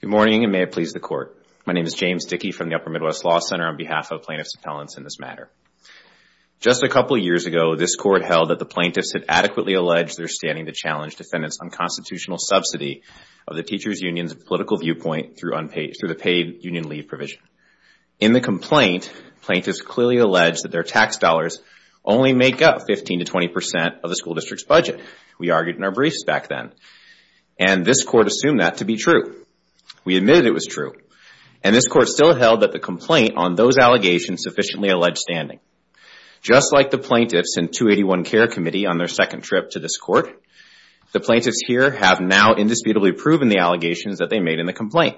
Good morning, and may it please the Court. My name is James Dickey from the Upper Midwest Law Center on behalf of Plaintiffs Appellants in this matter. Just a couple of years ago, this Court held that the Plaintiffs had adequately alleged their standing to challenge defendants on constitutional subsidy of the teachers' union's political viewpoint through the paid union leave provision. In the complaint, plaintiffs clearly alleged that their tax dollars only make up 15 to 20 percent of the school district's budget. We argued in our briefs back then, and this Court assumed that to be true. We admitted it was true, and this Court still held that the complaint on those allegations sufficiently alleged standing. Just like the plaintiffs in 281 Care Committee on their second trip to this Court, the plaintiffs here have now indisputably proven the allegations that they made in the complaint.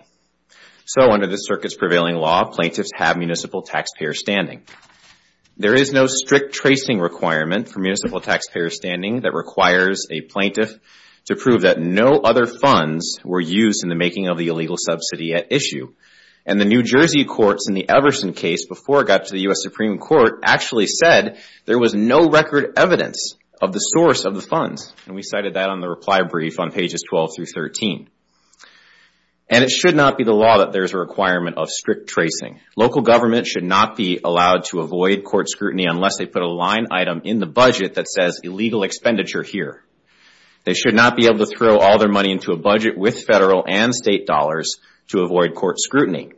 So under this circuit's prevailing law, plaintiffs have municipal taxpayer standing. There is no strict tracing requirement for municipal taxpayer standing that requires a plaintiff to prove that no other funds were used in the making of the illegal subsidy at issue. And the New Jersey courts in the Everson case before it got to the U.S. Supreme Court actually said there was no record evidence of the source of the funds, and we cited that on the reply brief on pages 12 through 13. And it should not be the law that there is a requirement of strict tracing. Local governments should not be allowed to avoid court scrutiny unless they put a line item in the budget that says illegal expenditure here. They should not be able to throw all their money into a budget with federal and state dollars to avoid court scrutiny.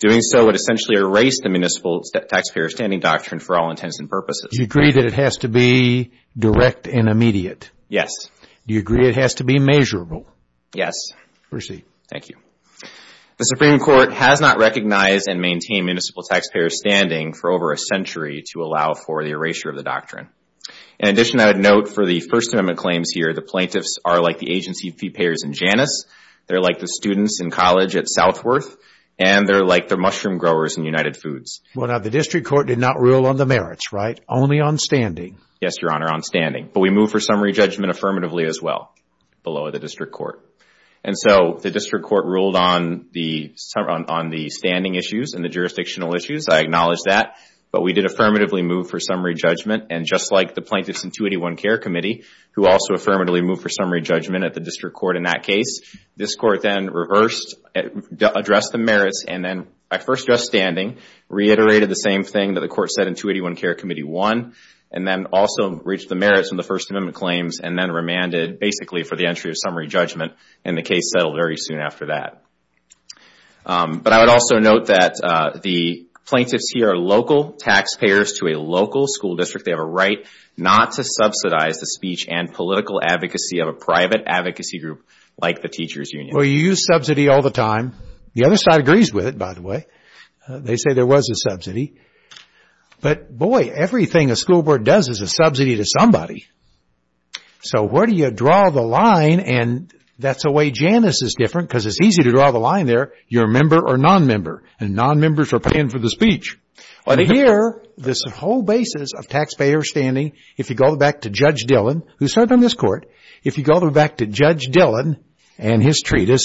Doing so would essentially erase the municipal taxpayer standing doctrine for all intents and purposes. Do you agree that it has to be direct and immediate? Yes. Do you agree it has to be measurable? Yes. Proceed. Thank you. The Supreme Court has not recognized and maintained municipal taxpayer standing for over a century to allow for the erasure of the doctrine. In addition, I would note for the First Amendment claims here, the plaintiffs are like the agency fee payers in Janus, they are like the students in college at Southworth, and they are like the mushroom growers in United Foods. Well, now the District Court did not rule on the merits, right? Only on standing? Yes, Your Honor, on standing. But we moved for summary judgment affirmatively as well below the District Court. And so the District Court ruled on the standing issues and the jurisdictional issues. I acknowledge that. But we did affirmatively move for summary judgment. And just like the Plaintiffs' Intuition and Care Committee, who also affirmatively moved for summary judgment at the District Court in that case, this Court then reversed addressed the merits and then, by first just standing, reiterated the same thing that the Court said in 281 Care Committee 1, and then also reached the merits in the First Amendment claims and then remanded basically for the entry of summary judgment. And the case settled very soon after that. But I would also note that the plaintiffs here are local taxpayers to a local school district. They have a right not to subsidize the speech and political advocacy of a private advocacy group like the Teachers' Union. Well, you use subsidy all the time. The other side agrees with it, by the way. They say there was a subsidy. But boy, everything a school board does is a subsidy to somebody. So where do you draw the line? And that's the way Janus is different because it's easy to draw the line there. You're a member or non-member. And non-members are paying for the speech. But here, this whole basis of taxpayer standing, if you go back to Judge Dillon, who served in the Justice,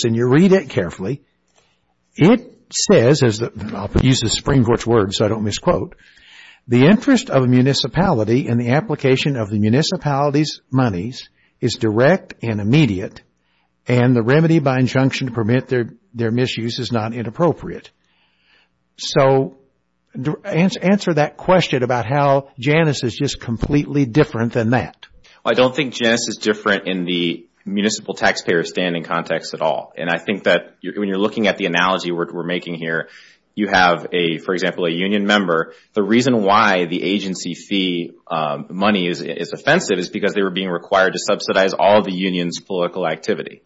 and you read it carefully, it says, I'll use the Supreme Court's words so I don't misquote, the interest of a municipality in the application of the municipality's monies is direct and immediate, and the remedy by injunction to permit their misuse is not inappropriate. So answer that question about how Janus is just completely different than that. I don't think Janus is different in the municipal taxpayer standing context at all. And I think that when you're looking at the analogy we're making here, you have, for example, a union member. The reason why the agency fee money is offensive is because they were being required to subsidize all the union's political activity.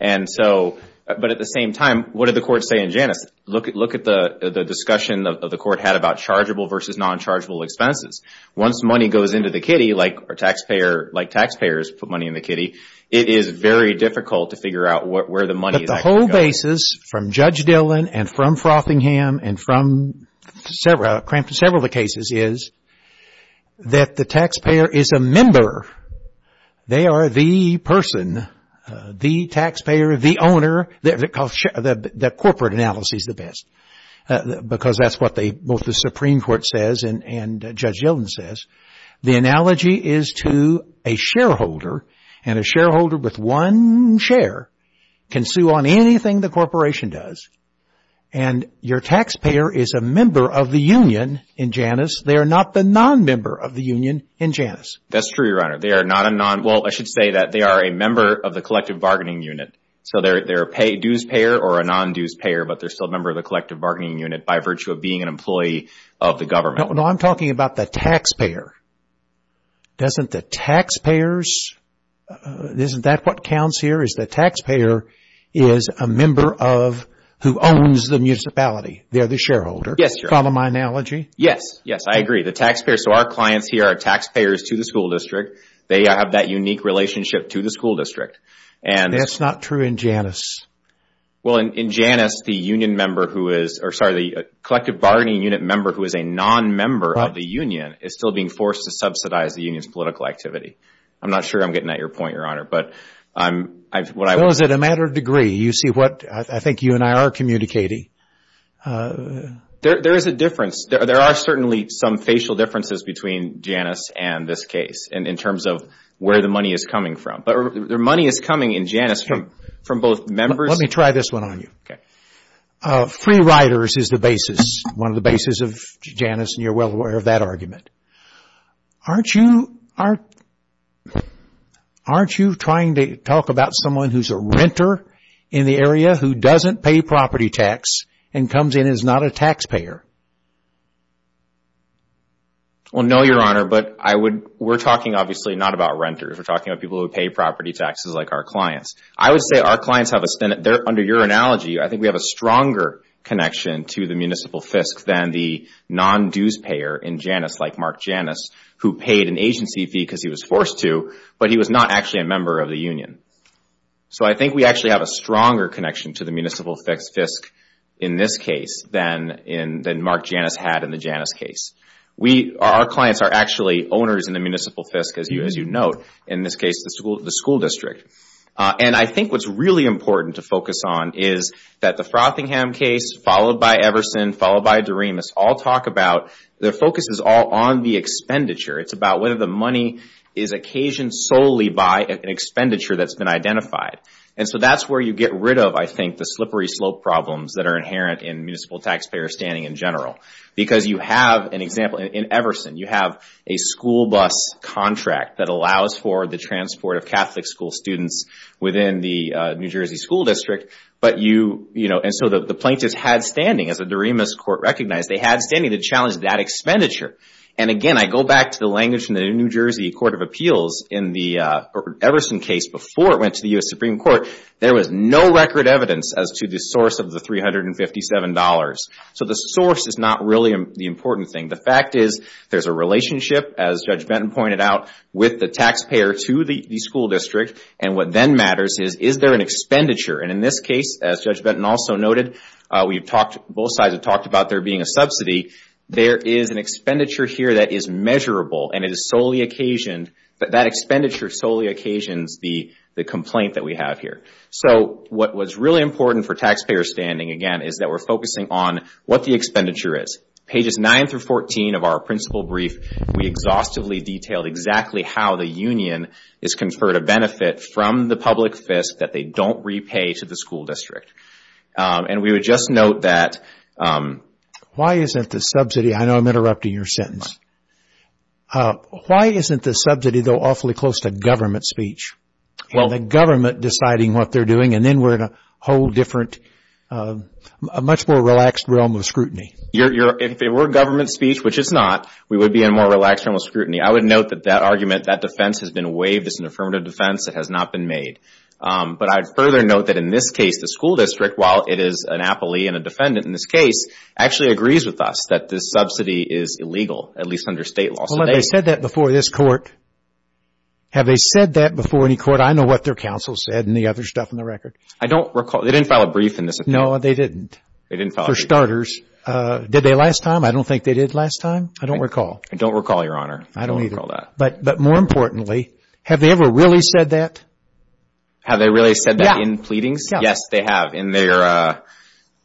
And so, but at the same time, what did the court say in Janus? Look at the discussion that the court had about chargeable versus non-chargeable expenses. Once money goes into the kitty, like taxpayers put money in the kitty, it is very difficult to figure out where the money is actually going. But the whole basis from Judge Dillon and from Frothingham and from several of the cases is that the taxpayer is a member. They are the person, the taxpayer, the owner. The corporate analysis is the best because that's what both the Supreme Court says and Judge Dillon says. The analogy is to a shareholder, and a shareholder with one share can sue on anything the corporation does. And your taxpayer is a member of the union in Janus. They are not the non-member of the union in Janus. That's true, Your Honor. They are not a non, well, I should say that they are a member of the collective bargaining unit. So they're a dues payer or a non-dues payer, but they're still a member of the collective bargaining unit by virtue of being an employee of the government. No, I'm talking about the taxpayer. Doesn't the taxpayers, isn't that what counts here, is the taxpayer is a member of, who owns the municipality. They're the shareholder. Yes, Your Honor. Follow my analogy? Yes, yes, I agree. The taxpayer, so our clients here are taxpayers to the school district. They have that unique relationship to the school district. That's not true in Janus. Well, in Janus, the union member who is, or sorry, the collective bargaining unit member who is a non-member of the union is still being forced to subsidize the union's political activity. I'm not sure I'm getting at your point, Your Honor, but I'm, what I would say Well, is it a matter of degree? You see what, I think you and I are communicating. There is a difference. There are certainly some facial differences between Janus and this case in terms of where the money is coming from. But the money is coming in Janus from both members Let me try this one on you. Free riders is the basis, one of the basis of Janus and you're well aware of that argument. Aren't you, aren't you trying to talk about someone who is a renter in the area who doesn't pay property tax and comes in as not a taxpayer? Well no, Your Honor, but I would, we're talking obviously not about renters. We're talking about people who pay property taxes like our clients. I would say our clients have a, they are, under your analogy, I think we have a stronger connection to the municipal FISC than the non-dues payer in Janus like Mark Janus who paid an agency fee because he was forced to, but he was not actually a member of the union. So I think we actually have a stronger connection to the municipal FISC in this case than in, than Mark Janus had in the Janus case. We, our clients are actually owners in the municipal FISC, as you note, in this case the school, the school district. And I think what's really important to focus on is that the Frothingham case, followed by Everson, followed by Doremus, all talk about, their focus is all on the expenditure. It's about whether the money is occasioned solely by an expenditure that's been identified. And so that's where you get rid of, I think, the slippery slope problems that are inherent in municipal taxpayer standing in general. Because you have, an example, in Everson, you have a school bus contract that allows for the transport of Catholic school students within the New Jersey school district, but you, you know, and so the plaintiffs had standing, as the Doremus Court recognized, they had standing to challenge that expenditure. And again, I go back to the language in the New Jersey Court of Appeals in the Everson case before it went to the U.S. Supreme Court, there was no record evidence as to the source of the $357. So the source is not really the important thing. The fact is, there's a relationship, as Judge Benton pointed out, with the taxpayer to the school district. And what then matters is, is there an expenditure? And in this case, as Judge Benton also noted, we've talked, both sides have talked about there being a subsidy. There is an expenditure here that is measurable and it is solely occasioned, but that expenditure solely occasions the complaint that we have here. So what was really important for taxpayer standing, again, is that we're focusing on what the expenditure is. Pages 9 through 14 of our principal brief, we exhaustively detailed exactly how the union is conferred a benefit from the public FISC that they don't repay to the school district. And we would just note that, why isn't the subsidy, I know I'm interrupting your sentence, why isn't the subsidy, though, awfully close to government speech and the government deciding what they're doing? And then we're in a whole different, a much more relaxed realm of scrutiny. If it were government speech, which it's not, we would be in a more relaxed realm of scrutiny. I would note that that argument, that defense has been waived. It's an affirmative defense that has not been made. But I'd further note that in this case, the school district, while it is an appellee and a defendant in this case, actually agrees with us that this subsidy is illegal, at least under state law. Well, have they said that before this court? Have they said that before any court? I know what their counsel said and the other stuff on the record. I don't recall. They didn't file a brief in this opinion. No, they didn't. They didn't file a brief. For starters. Did they last time? I don't think they did last time. I don't recall. I don't recall, Your Honor. I don't either. But more importantly, have they ever really said that? Have they really said that in pleadings? Yes, they have. In their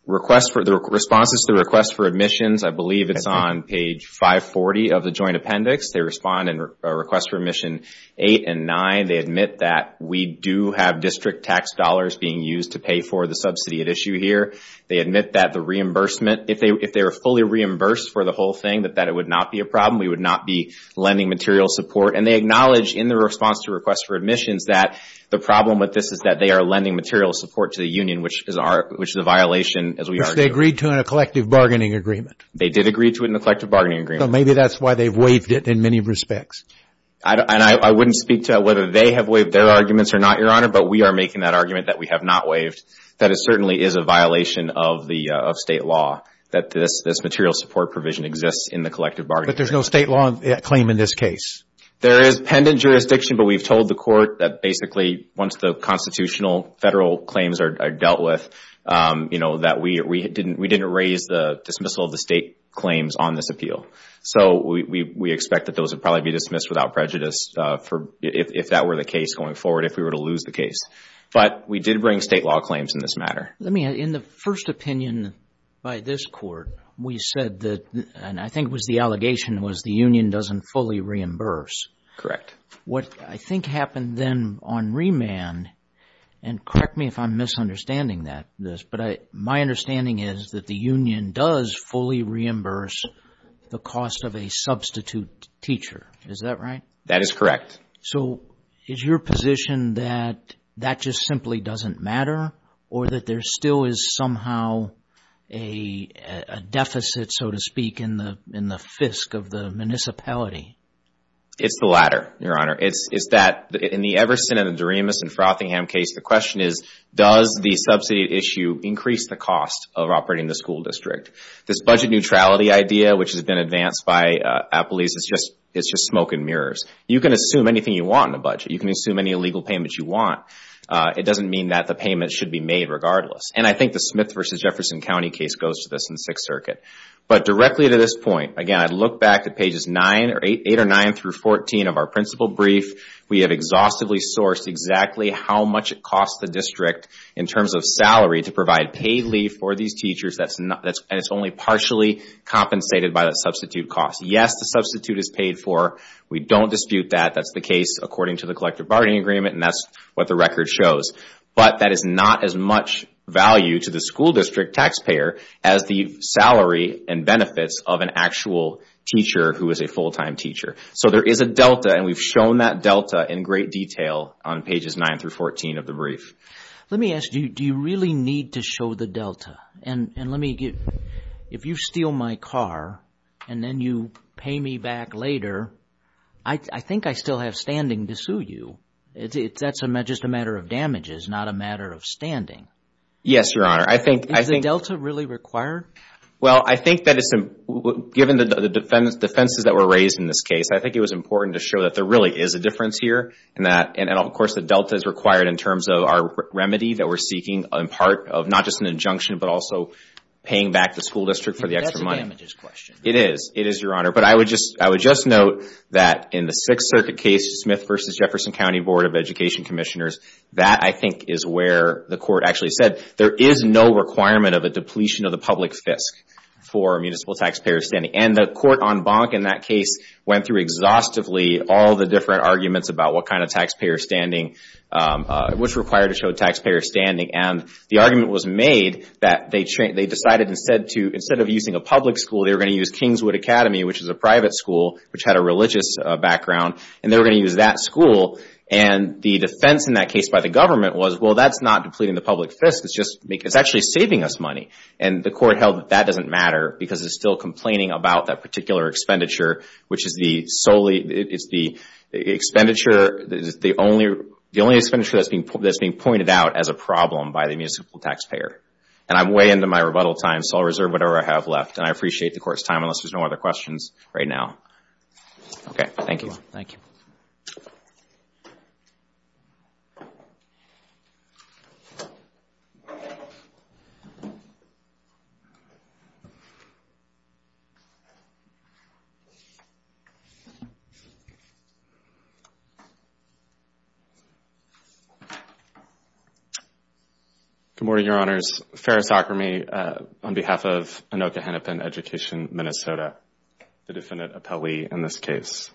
request for the responses to the request for admissions, I believe it's on page 540 of the joint appendix. They respond in requests for admission 8 and 9. They admit that we do have district tax dollars being used to pay for the subsidy at issue here. They admit that the reimbursement, if they were fully reimbursed for the whole thing, that it would not be a problem. We would not be lending material support. And they acknowledge in their response to requests for admissions that the problem with this is that they are lending material support to the union, which is a violation, as we argue. Which they agreed to in a collective bargaining agreement. They did agree to it in a collective bargaining agreement. So maybe that's why they've waived it in many respects. And I wouldn't speak to whether they have waived their arguments or not, Your Honor, but we are making that argument that we have not waived. That it certainly is a violation of state law that this material support provision exists in the collective bargaining agreement. But there's no state law claim in this case? There is pendant jurisdiction, but we've told the court that basically once the constitutional federal claims are dealt with, you know, that we didn't raise the dismissal of the state claims on this appeal. So we expect that those would probably be dismissed without prejudice if that were the case going forward, if we were to lose the case. But we did bring state law claims in this matter. Let me, in the first opinion by this court, we said that, and I think it was the allegation was the union doesn't fully reimburse. Correct. What I think happened then on remand, and correct me if I'm misunderstanding that, this, but my understanding is that the union does fully reimburse the cost of a substitute teacher. Is that right? That is correct. So is your position that that just simply doesn't matter or that there still is somehow a deficit, so to speak, in the fisc of the municipality? It's the latter, Your Honor. It's that in the Everson and the Doremus and Frothingham case, the question is, does the subsidy issue increase the cost of operating the school district? This budget neutrality idea, which has been advanced by Appleby's, is just smoke and mirrors. You can assume anything you want in a budget. You can assume any legal payments you want. It doesn't mean that the payment should be made regardless. And I think the Smith versus Jefferson County case goes to this in the Sixth Circuit. But directly to this point, again, I'd look back to pages 8 or 9 through 14 of our principal brief. We have exhaustively sourced exactly how much it costs the district in terms of salary to provide paid leave for these teachers, and it's only partially compensated by that substitute cost. Yes, the substitute is paid for. We don't dispute that. That's the case according to the collective bargaining agreement, and that's what the record shows. But that is not as much value to the school district taxpayer as the salary and benefits of an actual teacher who is a full-time teacher. So there is a delta, and we've shown that delta in great detail on pages 9 through 14 of the brief. Let me ask you, do you really need to show the delta? If you steal my car and then you pay me back later, I think I still have standing to sue you. That's just a matter of damages. It's not a matter of standing. Yes, Your Honor. Is the delta really required? Well, I think that it's, given the defenses that were raised in this case, I think it was important to show that there really is a difference here, and of course the delta is required in terms of our remedy that we're seeking in part of not just an injunction, but also paying back the school district for the extra money. It is a damages question. It is. It is, Your Honor. But I would just note that in the Sixth Circuit case, Smith v. Jefferson County Board of Education Commissioners, that I think is where the court actually said there is no requirement of a depletion of the public FISC for municipal taxpayer standing. And the court on Bonk in that case went through exhaustively all the different arguments about what kind of taxpayer standing was required to show taxpayer standing. And the argument was made that they decided instead of using a public school, they were going to use Kingswood Academy, which is a private school, which had a religious background, and they were going to use that school. And the defense in that case by the government was, well, that's not depleting the public FISC. It's actually saving us money. And the court held that that doesn't matter because it's still complaining about that particular expenditure, which is the only expenditure that's being pointed out as a problem by the municipal taxpayer. And I'm way into my rebuttal time, so I'll reserve whatever I have left. And I appreciate the court's time, unless there's no other questions right now. Okay. Thank you. Thank you. Good morning, Your Honors. Ferris Akrami on behalf of Anoka-Hennepin Education, Minnesota, the definite appellee in this case.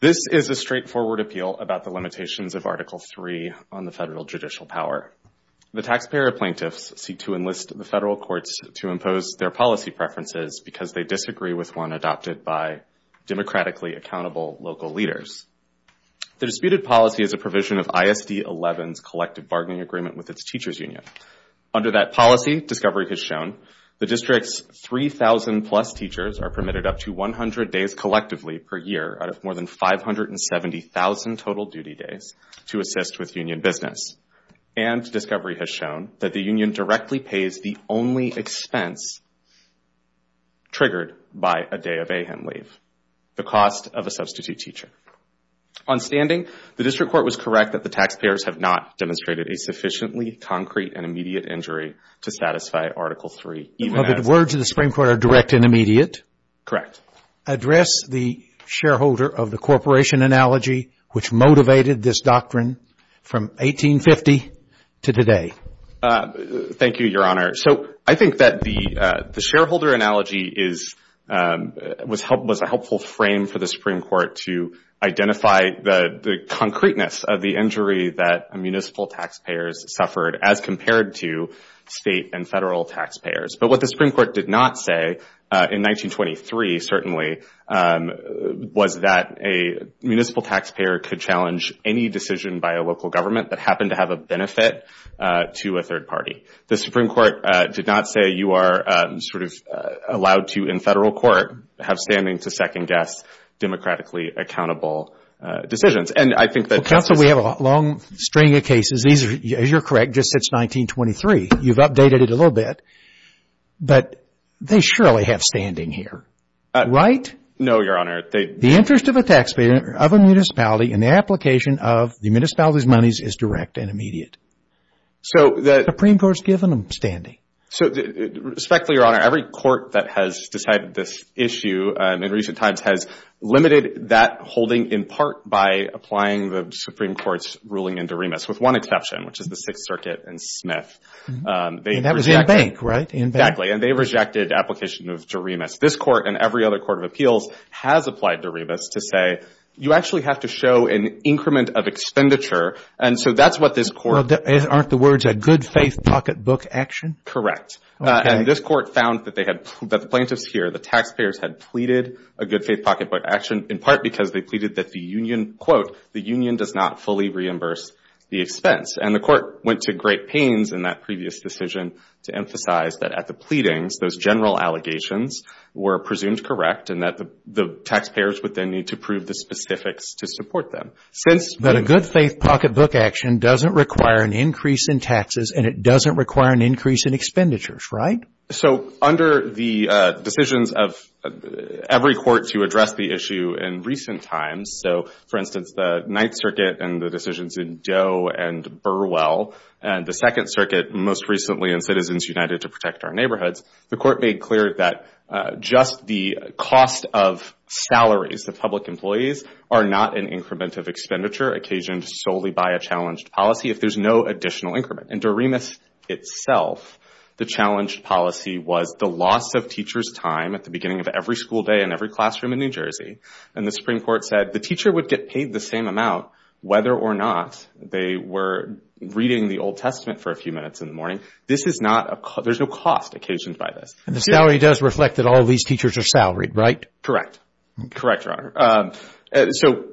This is a straightforward appeal about the limitations of Article III on the federal judicial power. The taxpayer plaintiffs seek to enlist the federal courts to impose their policy preferences because they disagree with one adopted by democratically accountable local leaders. The disputed policy is a provision of ISD-11's collective bargaining agreement with its teachers' union. Under that policy, discovery has shown, the district's 3,000 plus teachers are permitted up to 100 days collectively per year out of more than 570,000 total duty days to assist with union business. And discovery has shown that the union directly pays the only expense triggered by a day of AHAM leave, the cost of a substitute teacher. On standing, the district court was correct that the taxpayers have not demonstrated a sufficiently concrete and immediate injury to satisfy Article III. But the words of the Supreme Court are direct and immediate? Correct. Address the shareholder of the corporation analogy which motivated this doctrine from 1850 to today. Thank you, Your Honor. So I think that the shareholder analogy was a helpful frame for the Supreme Court to identify the concreteness of the injury that municipal taxpayers suffered as compared to state and federal taxpayers. But what the Supreme Court did not say in 1923 certainly was that a municipal taxpayer could challenge any decision by a local government that happened to have a benefit to a third party. The Supreme Court did not say you are sort of allowed to, in federal court, have standing to second-guess democratically accountable decisions. And I think that... Counsel, we have a long string of cases. These are, you're correct, just since 1923. You've updated it a little bit. But they surely have standing here, right? No, Your Honor. The interest of a taxpayer of a municipality in the application of the municipality's monies is direct and immediate. The Supreme Court has given them standing. So, respectfully, Your Honor, every court that has decided this issue in recent times has limited that holding in part by applying the Supreme Court's ruling in Doremus with one exception, which is the Sixth Circuit and Smith. And that was in bank, right? Exactly. And they rejected application of Doremus. This Court and every other court of appeals has applied Doremus to say you actually have to show an increment of expenditure. And so that's what this Court... Aren't the words a good-faith pocketbook action? Correct. And this Court found that the plaintiffs here, the taxpayers, had pleaded a good-faith pocketbook action in part because they pleaded that the union, quote, the union does not fully reimburse the expense. And the Court went to great pains in that previous decision to emphasize that at the pleadings, those general allegations were presumed correct and that the taxpayers would then need to prove the specifics to support them. But a good-faith pocketbook action doesn't require an increase in taxes and it doesn't require an increase in expenditures, right? So under the decisions of every court to address the issue in recent times, so for instance the Ninth Circuit and the decisions in Doe and Burwell and the Second Circuit, most recently in Citizens United to Protect Our Neighborhoods, the Court made clear that just the cost of salaries of public employees are not an increment of expenditure occasioned solely by a challenged policy if there's no additional increment. In Doremus itself, the challenged policy was the loss of teacher's time at the beginning of every school day in every classroom in New Jersey. And the Supreme Court said the teacher would get paid the same amount whether or not they were reading the Old Testament for a few minutes in the morning. This is not a... There's no cost occasioned by this. And the salary does reflect that all these teachers are salaried, right? Correct. Correct, Your Honor. So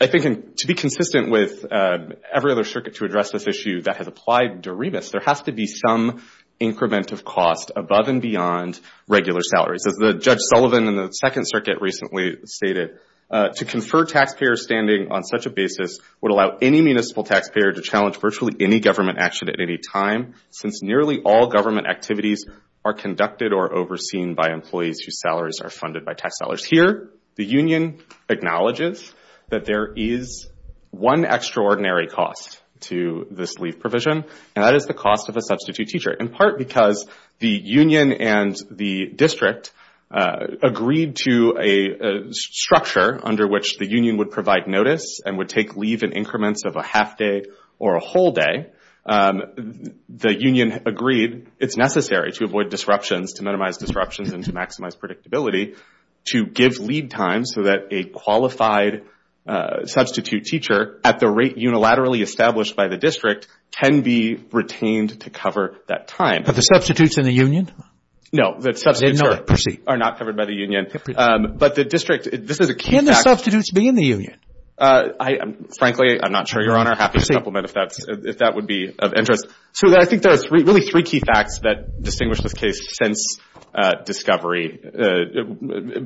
I think to be consistent with every other circuit to address this issue that has applied to Doremus, there has to be some increment of cost above and beyond regular salaries. As the Judge Sullivan in the Second Circuit recently stated, to confer taxpayer standing on such a basis would allow any municipal taxpayer to challenge virtually any government action at any time since nearly all government activities are conducted or overseen by employees whose salaries are funded by tax dollars. Here, the union acknowledges that there is one extraordinary cost to this leave provision, and that is the cost of a substitute teacher, in part because the union and the district agreed to a structure under which the union would provide notice and would take leave in increments of a half day or a whole day. The union agreed it's necessary to avoid disruptions, to minimize disruptions, and to maximize predictability to give leave time so that a qualified substitute teacher at the rate unilaterally established by the district can be retained to cover that time. But the substitutes in the union? No, the substitutes are not covered by the union. But the district... Can the substitutes be in the union? Frankly, I'm not sure, Your Honor. I'd have to supplement if that would be of interest. So I think there are really three key facts that distinguish this case since discovery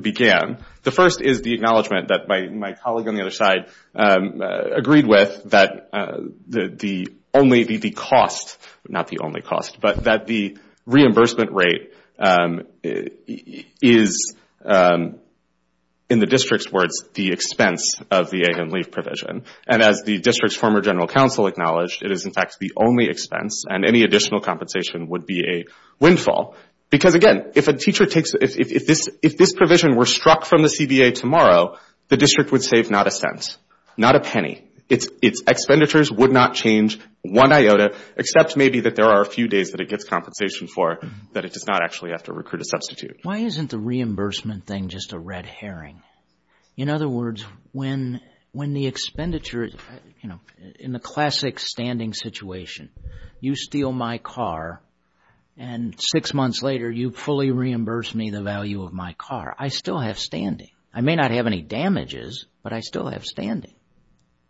began. The first is the acknowledgment that my colleague on the other side agreed with that the cost, not the only cost, but that the reimbursement rate is, in the district's words, the expense of the aid and leave provision. And as the district's former general counsel acknowledged, it is in fact the only expense and any additional compensation would be a windfall. Because again, if this provision were struck from the CBA tomorrow, the district would save not a cent, not a penny. Its expenditures would not change one iota, except maybe that there are a few days that it gets compensation for that it does not actually have to recruit a substitute. Why isn't the reimbursement thing just a red herring? In other words, when the expenditure, you know, in the classic standing situation, you steal my car and six months later, you fully reimburse me the value of my car, I still have standing. I may not have any damages, but I still have standing.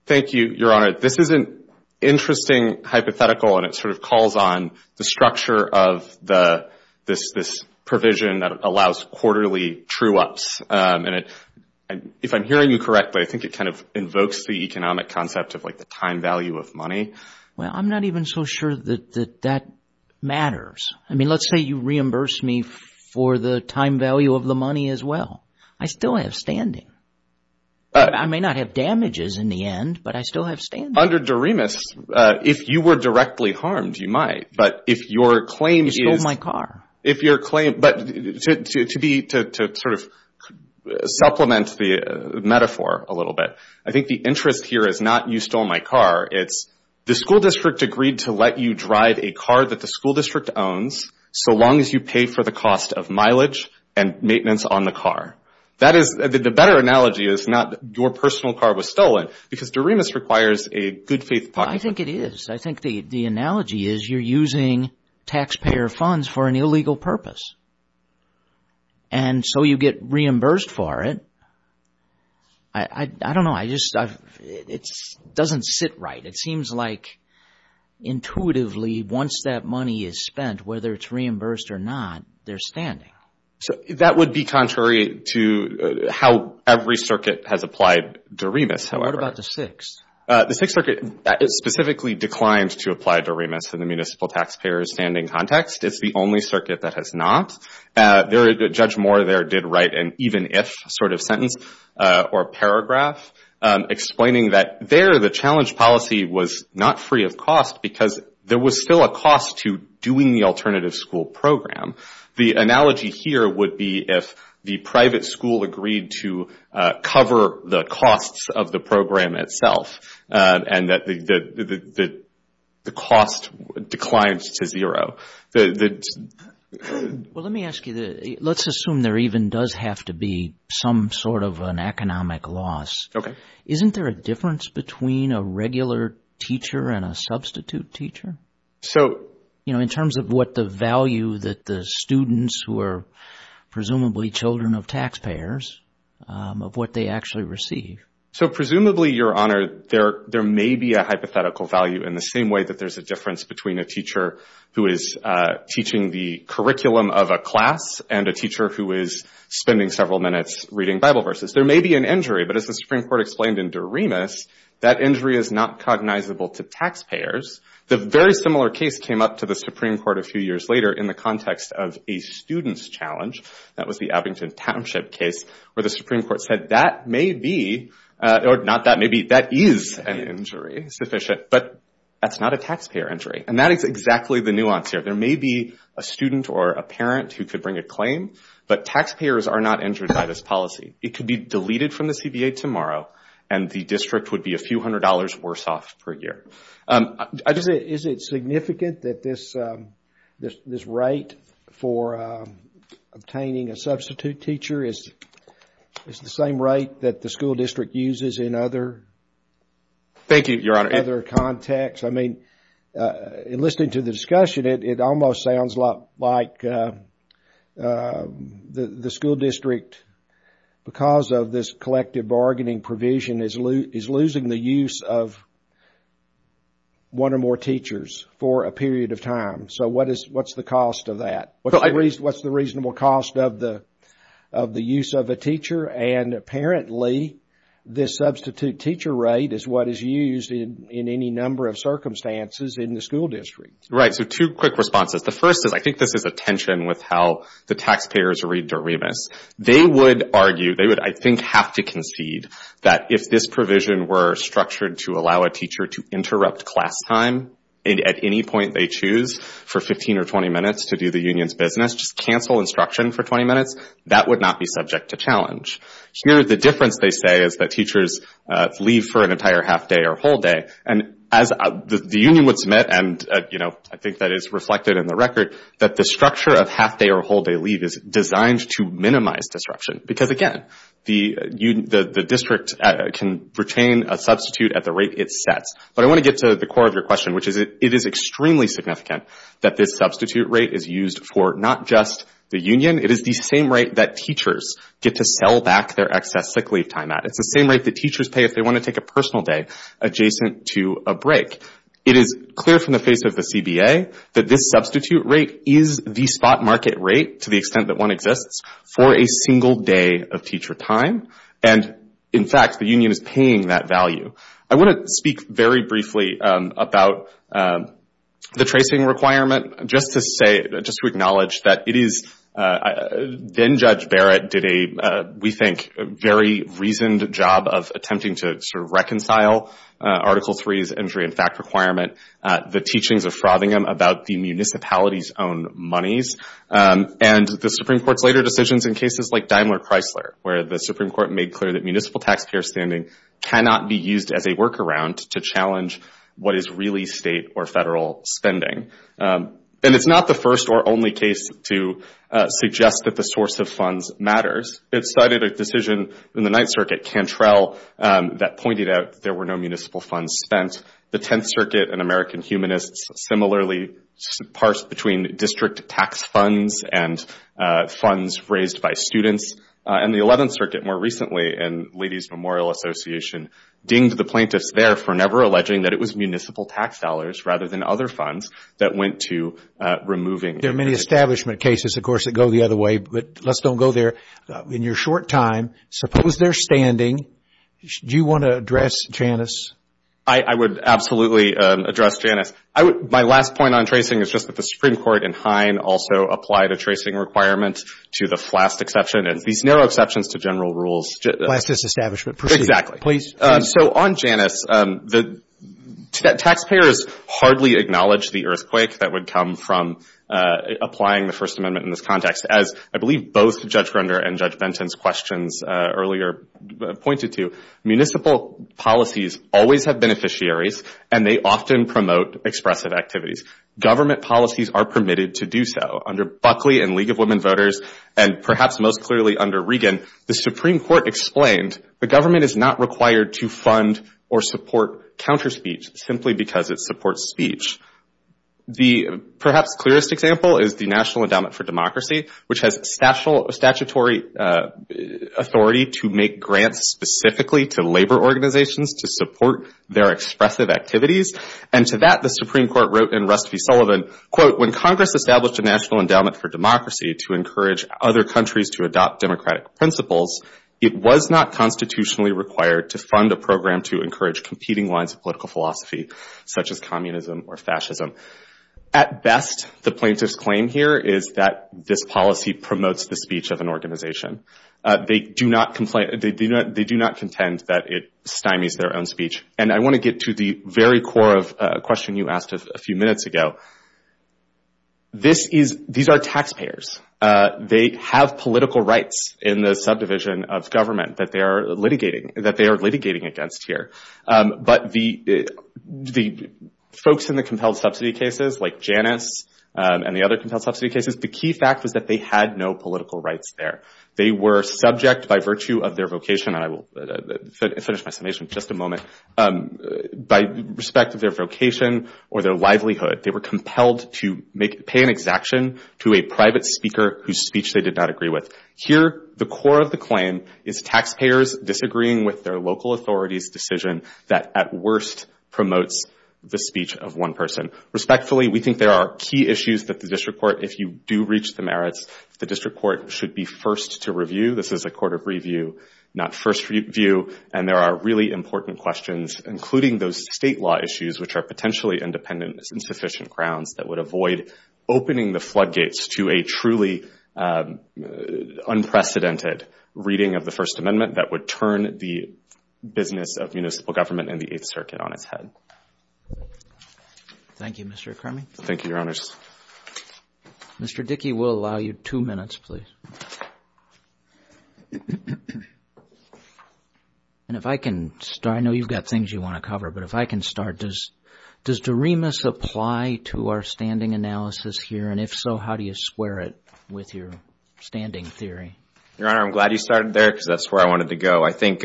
Thank you, Your Honor. This is an interesting hypothetical and it sort of calls on the structure of this provision that allows quarterly true-ups. If I'm hearing you correctly, I think it kind of invokes the economic concept of like the time value of money. Well, I'm not even so sure that that matters. I mean, let's say you reimburse me for the time value of the money as well. I still have standing. I may not have damages in the end, but I still have standing. Under Doremus, if you were directly harmed, you might. But if your claim is... You stole my car. If your claim, but to be, to sort of supplement the metaphor a little bit, I think the interest here is not you stole my car. It's the school district agreed to let you drive a car that the school district owns so long as you pay for the cost of mileage and maintenance on the car. That is, the better analogy is not your personal car was stolen, because Doremus requires a good faith... I think it is. I think the analogy is you're using taxpayer funds for an illegal purpose. And so you get reimbursed for it. I don't know. I just... It doesn't sit right. It seems like intuitively once that money is spent, whether it's reimbursed or not, they're standing. So that would be contrary to how every circuit has applied Doremus. What about the Sixth? The Sixth Circuit specifically declined to apply Doremus in the municipal taxpayer standing context. It's the only circuit that has not. Judge Moore there did write an even if sort of sentence or paragraph explaining that there, the challenge policy was not free of cost because there was still a cost to doing the alternative school program. The analogy here would be if the private school agreed to cover the costs of the program itself and that the cost declines to zero. Well, let me ask you this. Let's assume there even does have to be some sort of an economic loss. Isn't there a difference between a regular teacher and a substitute teacher? So, you know, in terms of what the value that the students who are presumably children of taxpayers, of what they actually receive. So presumably, Your Honor, there may be a hypothetical value in the same way that there's a difference between a teacher who is teaching the curriculum of a class and a teacher who is spending several minutes reading Bible verses. There may be an injury, but as the Supreme Court explained in Doremus, that injury is not cognizable to taxpayers. The very similar case came up to the Supreme Court a few years later in the context of a student's challenge. That was the Abington Township case where the Supreme Court said that may be, or not that may be, that is an injury, sufficient, but that's not a taxpayer injury. And that is exactly the nuance here. There may be a student or a parent who could bring a claim, but taxpayers are not injured by this policy. It could be deleted from the CBA tomorrow, and the district would be a few hundred dollars worse off per year. Is it significant that this rate for obtaining a substitute teacher is the same rate that the school district uses in other contexts? I mean, in listening to the discussion, it almost sounds a lot like the school district, because of this collective bargaining provision, is losing the use of one or more teachers for a period of time. So, what's the cost of that? What's the reasonable cost of the use of a teacher? And apparently, this substitute teacher rate is what is used in any number of circumstances in the school district. Right. So, two quick responses. The first is, I think this is a tension with how the taxpayers read Doremus. They would argue, they would, I think, have to concede that if this provision were structured to allow a teacher to interrupt class time at any point they choose for 15 or 20 minutes to do the union's business, just cancel instruction for 20 minutes, that would not be subject to challenge. The difference, they say, is that teachers leave for an entire half day or whole day. And as the union would submit, and I think that is reflected in the record, that the structure of half day or whole day leave is designed to minimize disruption. Because again, the district can retain a substitute at the rate it sets. But I want to get to the core of your question, which is, it is extremely significant that this substitute rate is used for not just the union. It is the same rate that teachers get to sell back their excess sick leave time at. It's the same rate that teachers pay if they want to take a personal day adjacent to a break. It is clear from the face of the CBA that this substitute rate is the spot market rate, to the extent that one exists, for a single day of teacher time. And in fact, the union is paying that value. I want to speak very briefly about the tracing requirement, just to acknowledge that it is, then Judge Barrett did a, we think, very reasoned job of attempting to sort of reconcile Article 3's injury in fact requirement, the teachings of Frothingham about the municipality's monies, and the Supreme Court's later decisions in cases like Daimler-Chrysler, where the Supreme Court made clear that municipal taxpayer standing cannot be used as a workaround to challenge what is really state or federal spending. And it's not the first or only case to suggest that the source of funds matters. It cited a decision in the Ninth Circuit, Cantrell, that pointed out there were no municipal funds spent. The Tenth Circuit and American Humanists, similarly, parsed between district tax funds and funds raised by students. And the Eleventh Circuit, more recently, and Ladies Memorial Association, dinged the plaintiffs there for never alleging that it was municipal tax dollars, rather than other funds, that went to removing. There are many establishment cases, of course, that go the other way. But let's don't go there. In your short time, suppose they're standing. Do you want to address Janice? I would absolutely address Janice. My last point on tracing is just that the Supreme Court in Hine also applied a tracing requirement to the Flast exception. And these narrow exceptions to general rules— Flast is establishment. Proceed. Please. So on Janice, the taxpayers hardly acknowledge the earthquake that would come from applying the First Amendment in this context. As I believe both Judge Grunder and Judge Benton's questions earlier pointed to, municipal policies always have beneficiaries, and they often promote expressive activities. Government policies are permitted to do so. Under Buckley and League of Women Voters, and perhaps most clearly under Regan, the Supreme Court explained the government is not required to fund or support counter-speech simply because it supports speech. The perhaps clearest example is the National Endowment for Democracy, which has statutory authority to make grants specifically to labor organizations to support their expressive activities. And to that, the Supreme Court wrote in Rusty Sullivan, when Congress established a National Endowment for Democracy to encourage other countries to adopt democratic principles, it was not constitutionally required to fund a program to encourage competing lines of political philosophy, such as communism or fascism. At best, the plaintiff's claim here is that this policy promotes the speech of an organization. They do not contend that it stymies their own speech. And I want to get to the very core of a question you asked a few minutes ago. These are taxpayers. They have political rights in the subdivision of government that they are litigating against here. But the folks in the compelled subsidy cases, like Janus and the other compelled subsidy cases, the key fact was that they had no political rights there. They were subject by virtue of their vocation. And I will finish my summation in just a moment. By respect of their vocation or their livelihood, they were compelled to pay an exaction to a private speaker whose speech they did not agree with. Here, the core of the claim is taxpayers disagreeing with their local authority's decision that, at worst, promotes the speech of one person. Respectfully, we think there are key issues that the district court, if you do reach the merits, the district court should be first to review. This is a court of review, not first review. And there are really important questions, including those state law issues, which are potentially independent, insufficient grounds that would avoid opening the floodgates to a truly unprecedented reading of the First Amendment that would turn the business of municipal government and the Eighth Circuit on its head. Thank you, Mr. Crummey. Thank you, Your Honors. Mr. Dickey, we'll allow you two minutes, please. And if I can start, I know you've got things you want to cover, but if I can start, does Doremus apply to our standing analysis here? And if so, how do you square it with your standing theory? Your Honor, I'm glad you started there because that's where I wanted to go. I think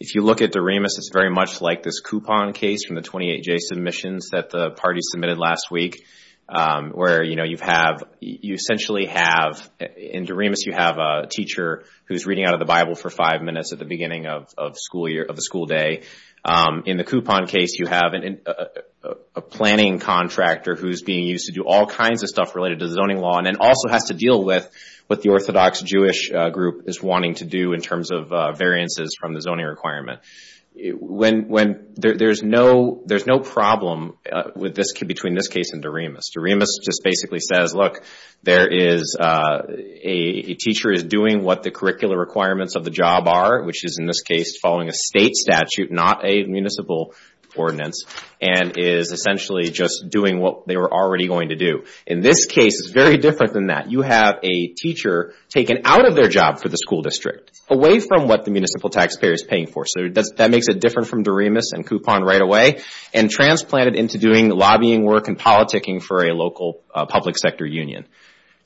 if you look at Doremus, it's very much like this coupon case from the 28-J submissions that the party submitted last week, where you essentially have, in Doremus, you have a teacher who's reading out of the Bible for five minutes at the beginning of the school day. In the coupon case, you have a planning contractor who's being used to do all kinds of stuff related to zoning law and then also has to deal with what the Orthodox Jewish group is wanting to do in terms of variances from the zoning requirement. There's no problem between this case and Doremus. Doremus just basically says, look, a teacher is doing what the curricular requirements of the job are, which is, in this case, following a state statute, not a municipal ordinance, and is essentially just doing what they were already going to do. In this case, it's very different than that. You have a teacher taken out of their job for the school district. Away from what the municipal taxpayer is paying for. So that makes it different from Doremus and coupon right away, and transplanted into doing lobbying work and politicking for a local public sector union.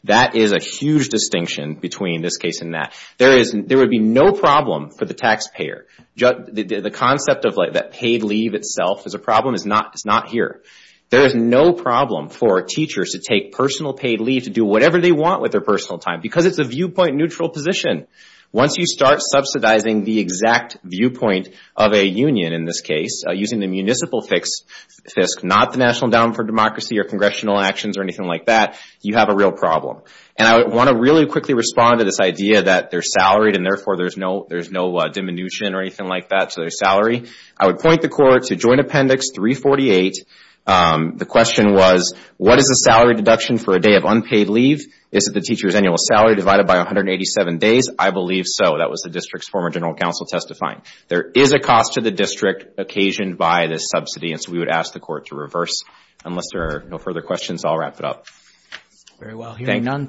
That is a huge distinction between this case and that. There would be no problem for the taxpayer. The concept of that paid leave itself as a problem is not here. There is no problem for teachers to take personal paid leave to do whatever they want with their personal time, because it's a viewpoint neutral position. Once you start subsidizing the exact viewpoint of a union, in this case, using the municipal FISC, not the National Endowment for Democracy or Congressional Actions or anything like that, you have a real problem. And I want to really quickly respond to this idea that they're salaried, and therefore there's no diminution or anything like that to their salary. I would point the court to Joint Appendix 348. The question was, what is the salary deduction for a day of unpaid leave? Is it the teacher's annual salary divided by 187 days? I believe so. That was the district's former general counsel testifying. There is a cost to the district occasioned by this subsidy, and so we would ask the court to reverse. Unless there are no further questions, I'll wrap it up. Very well, hearing none.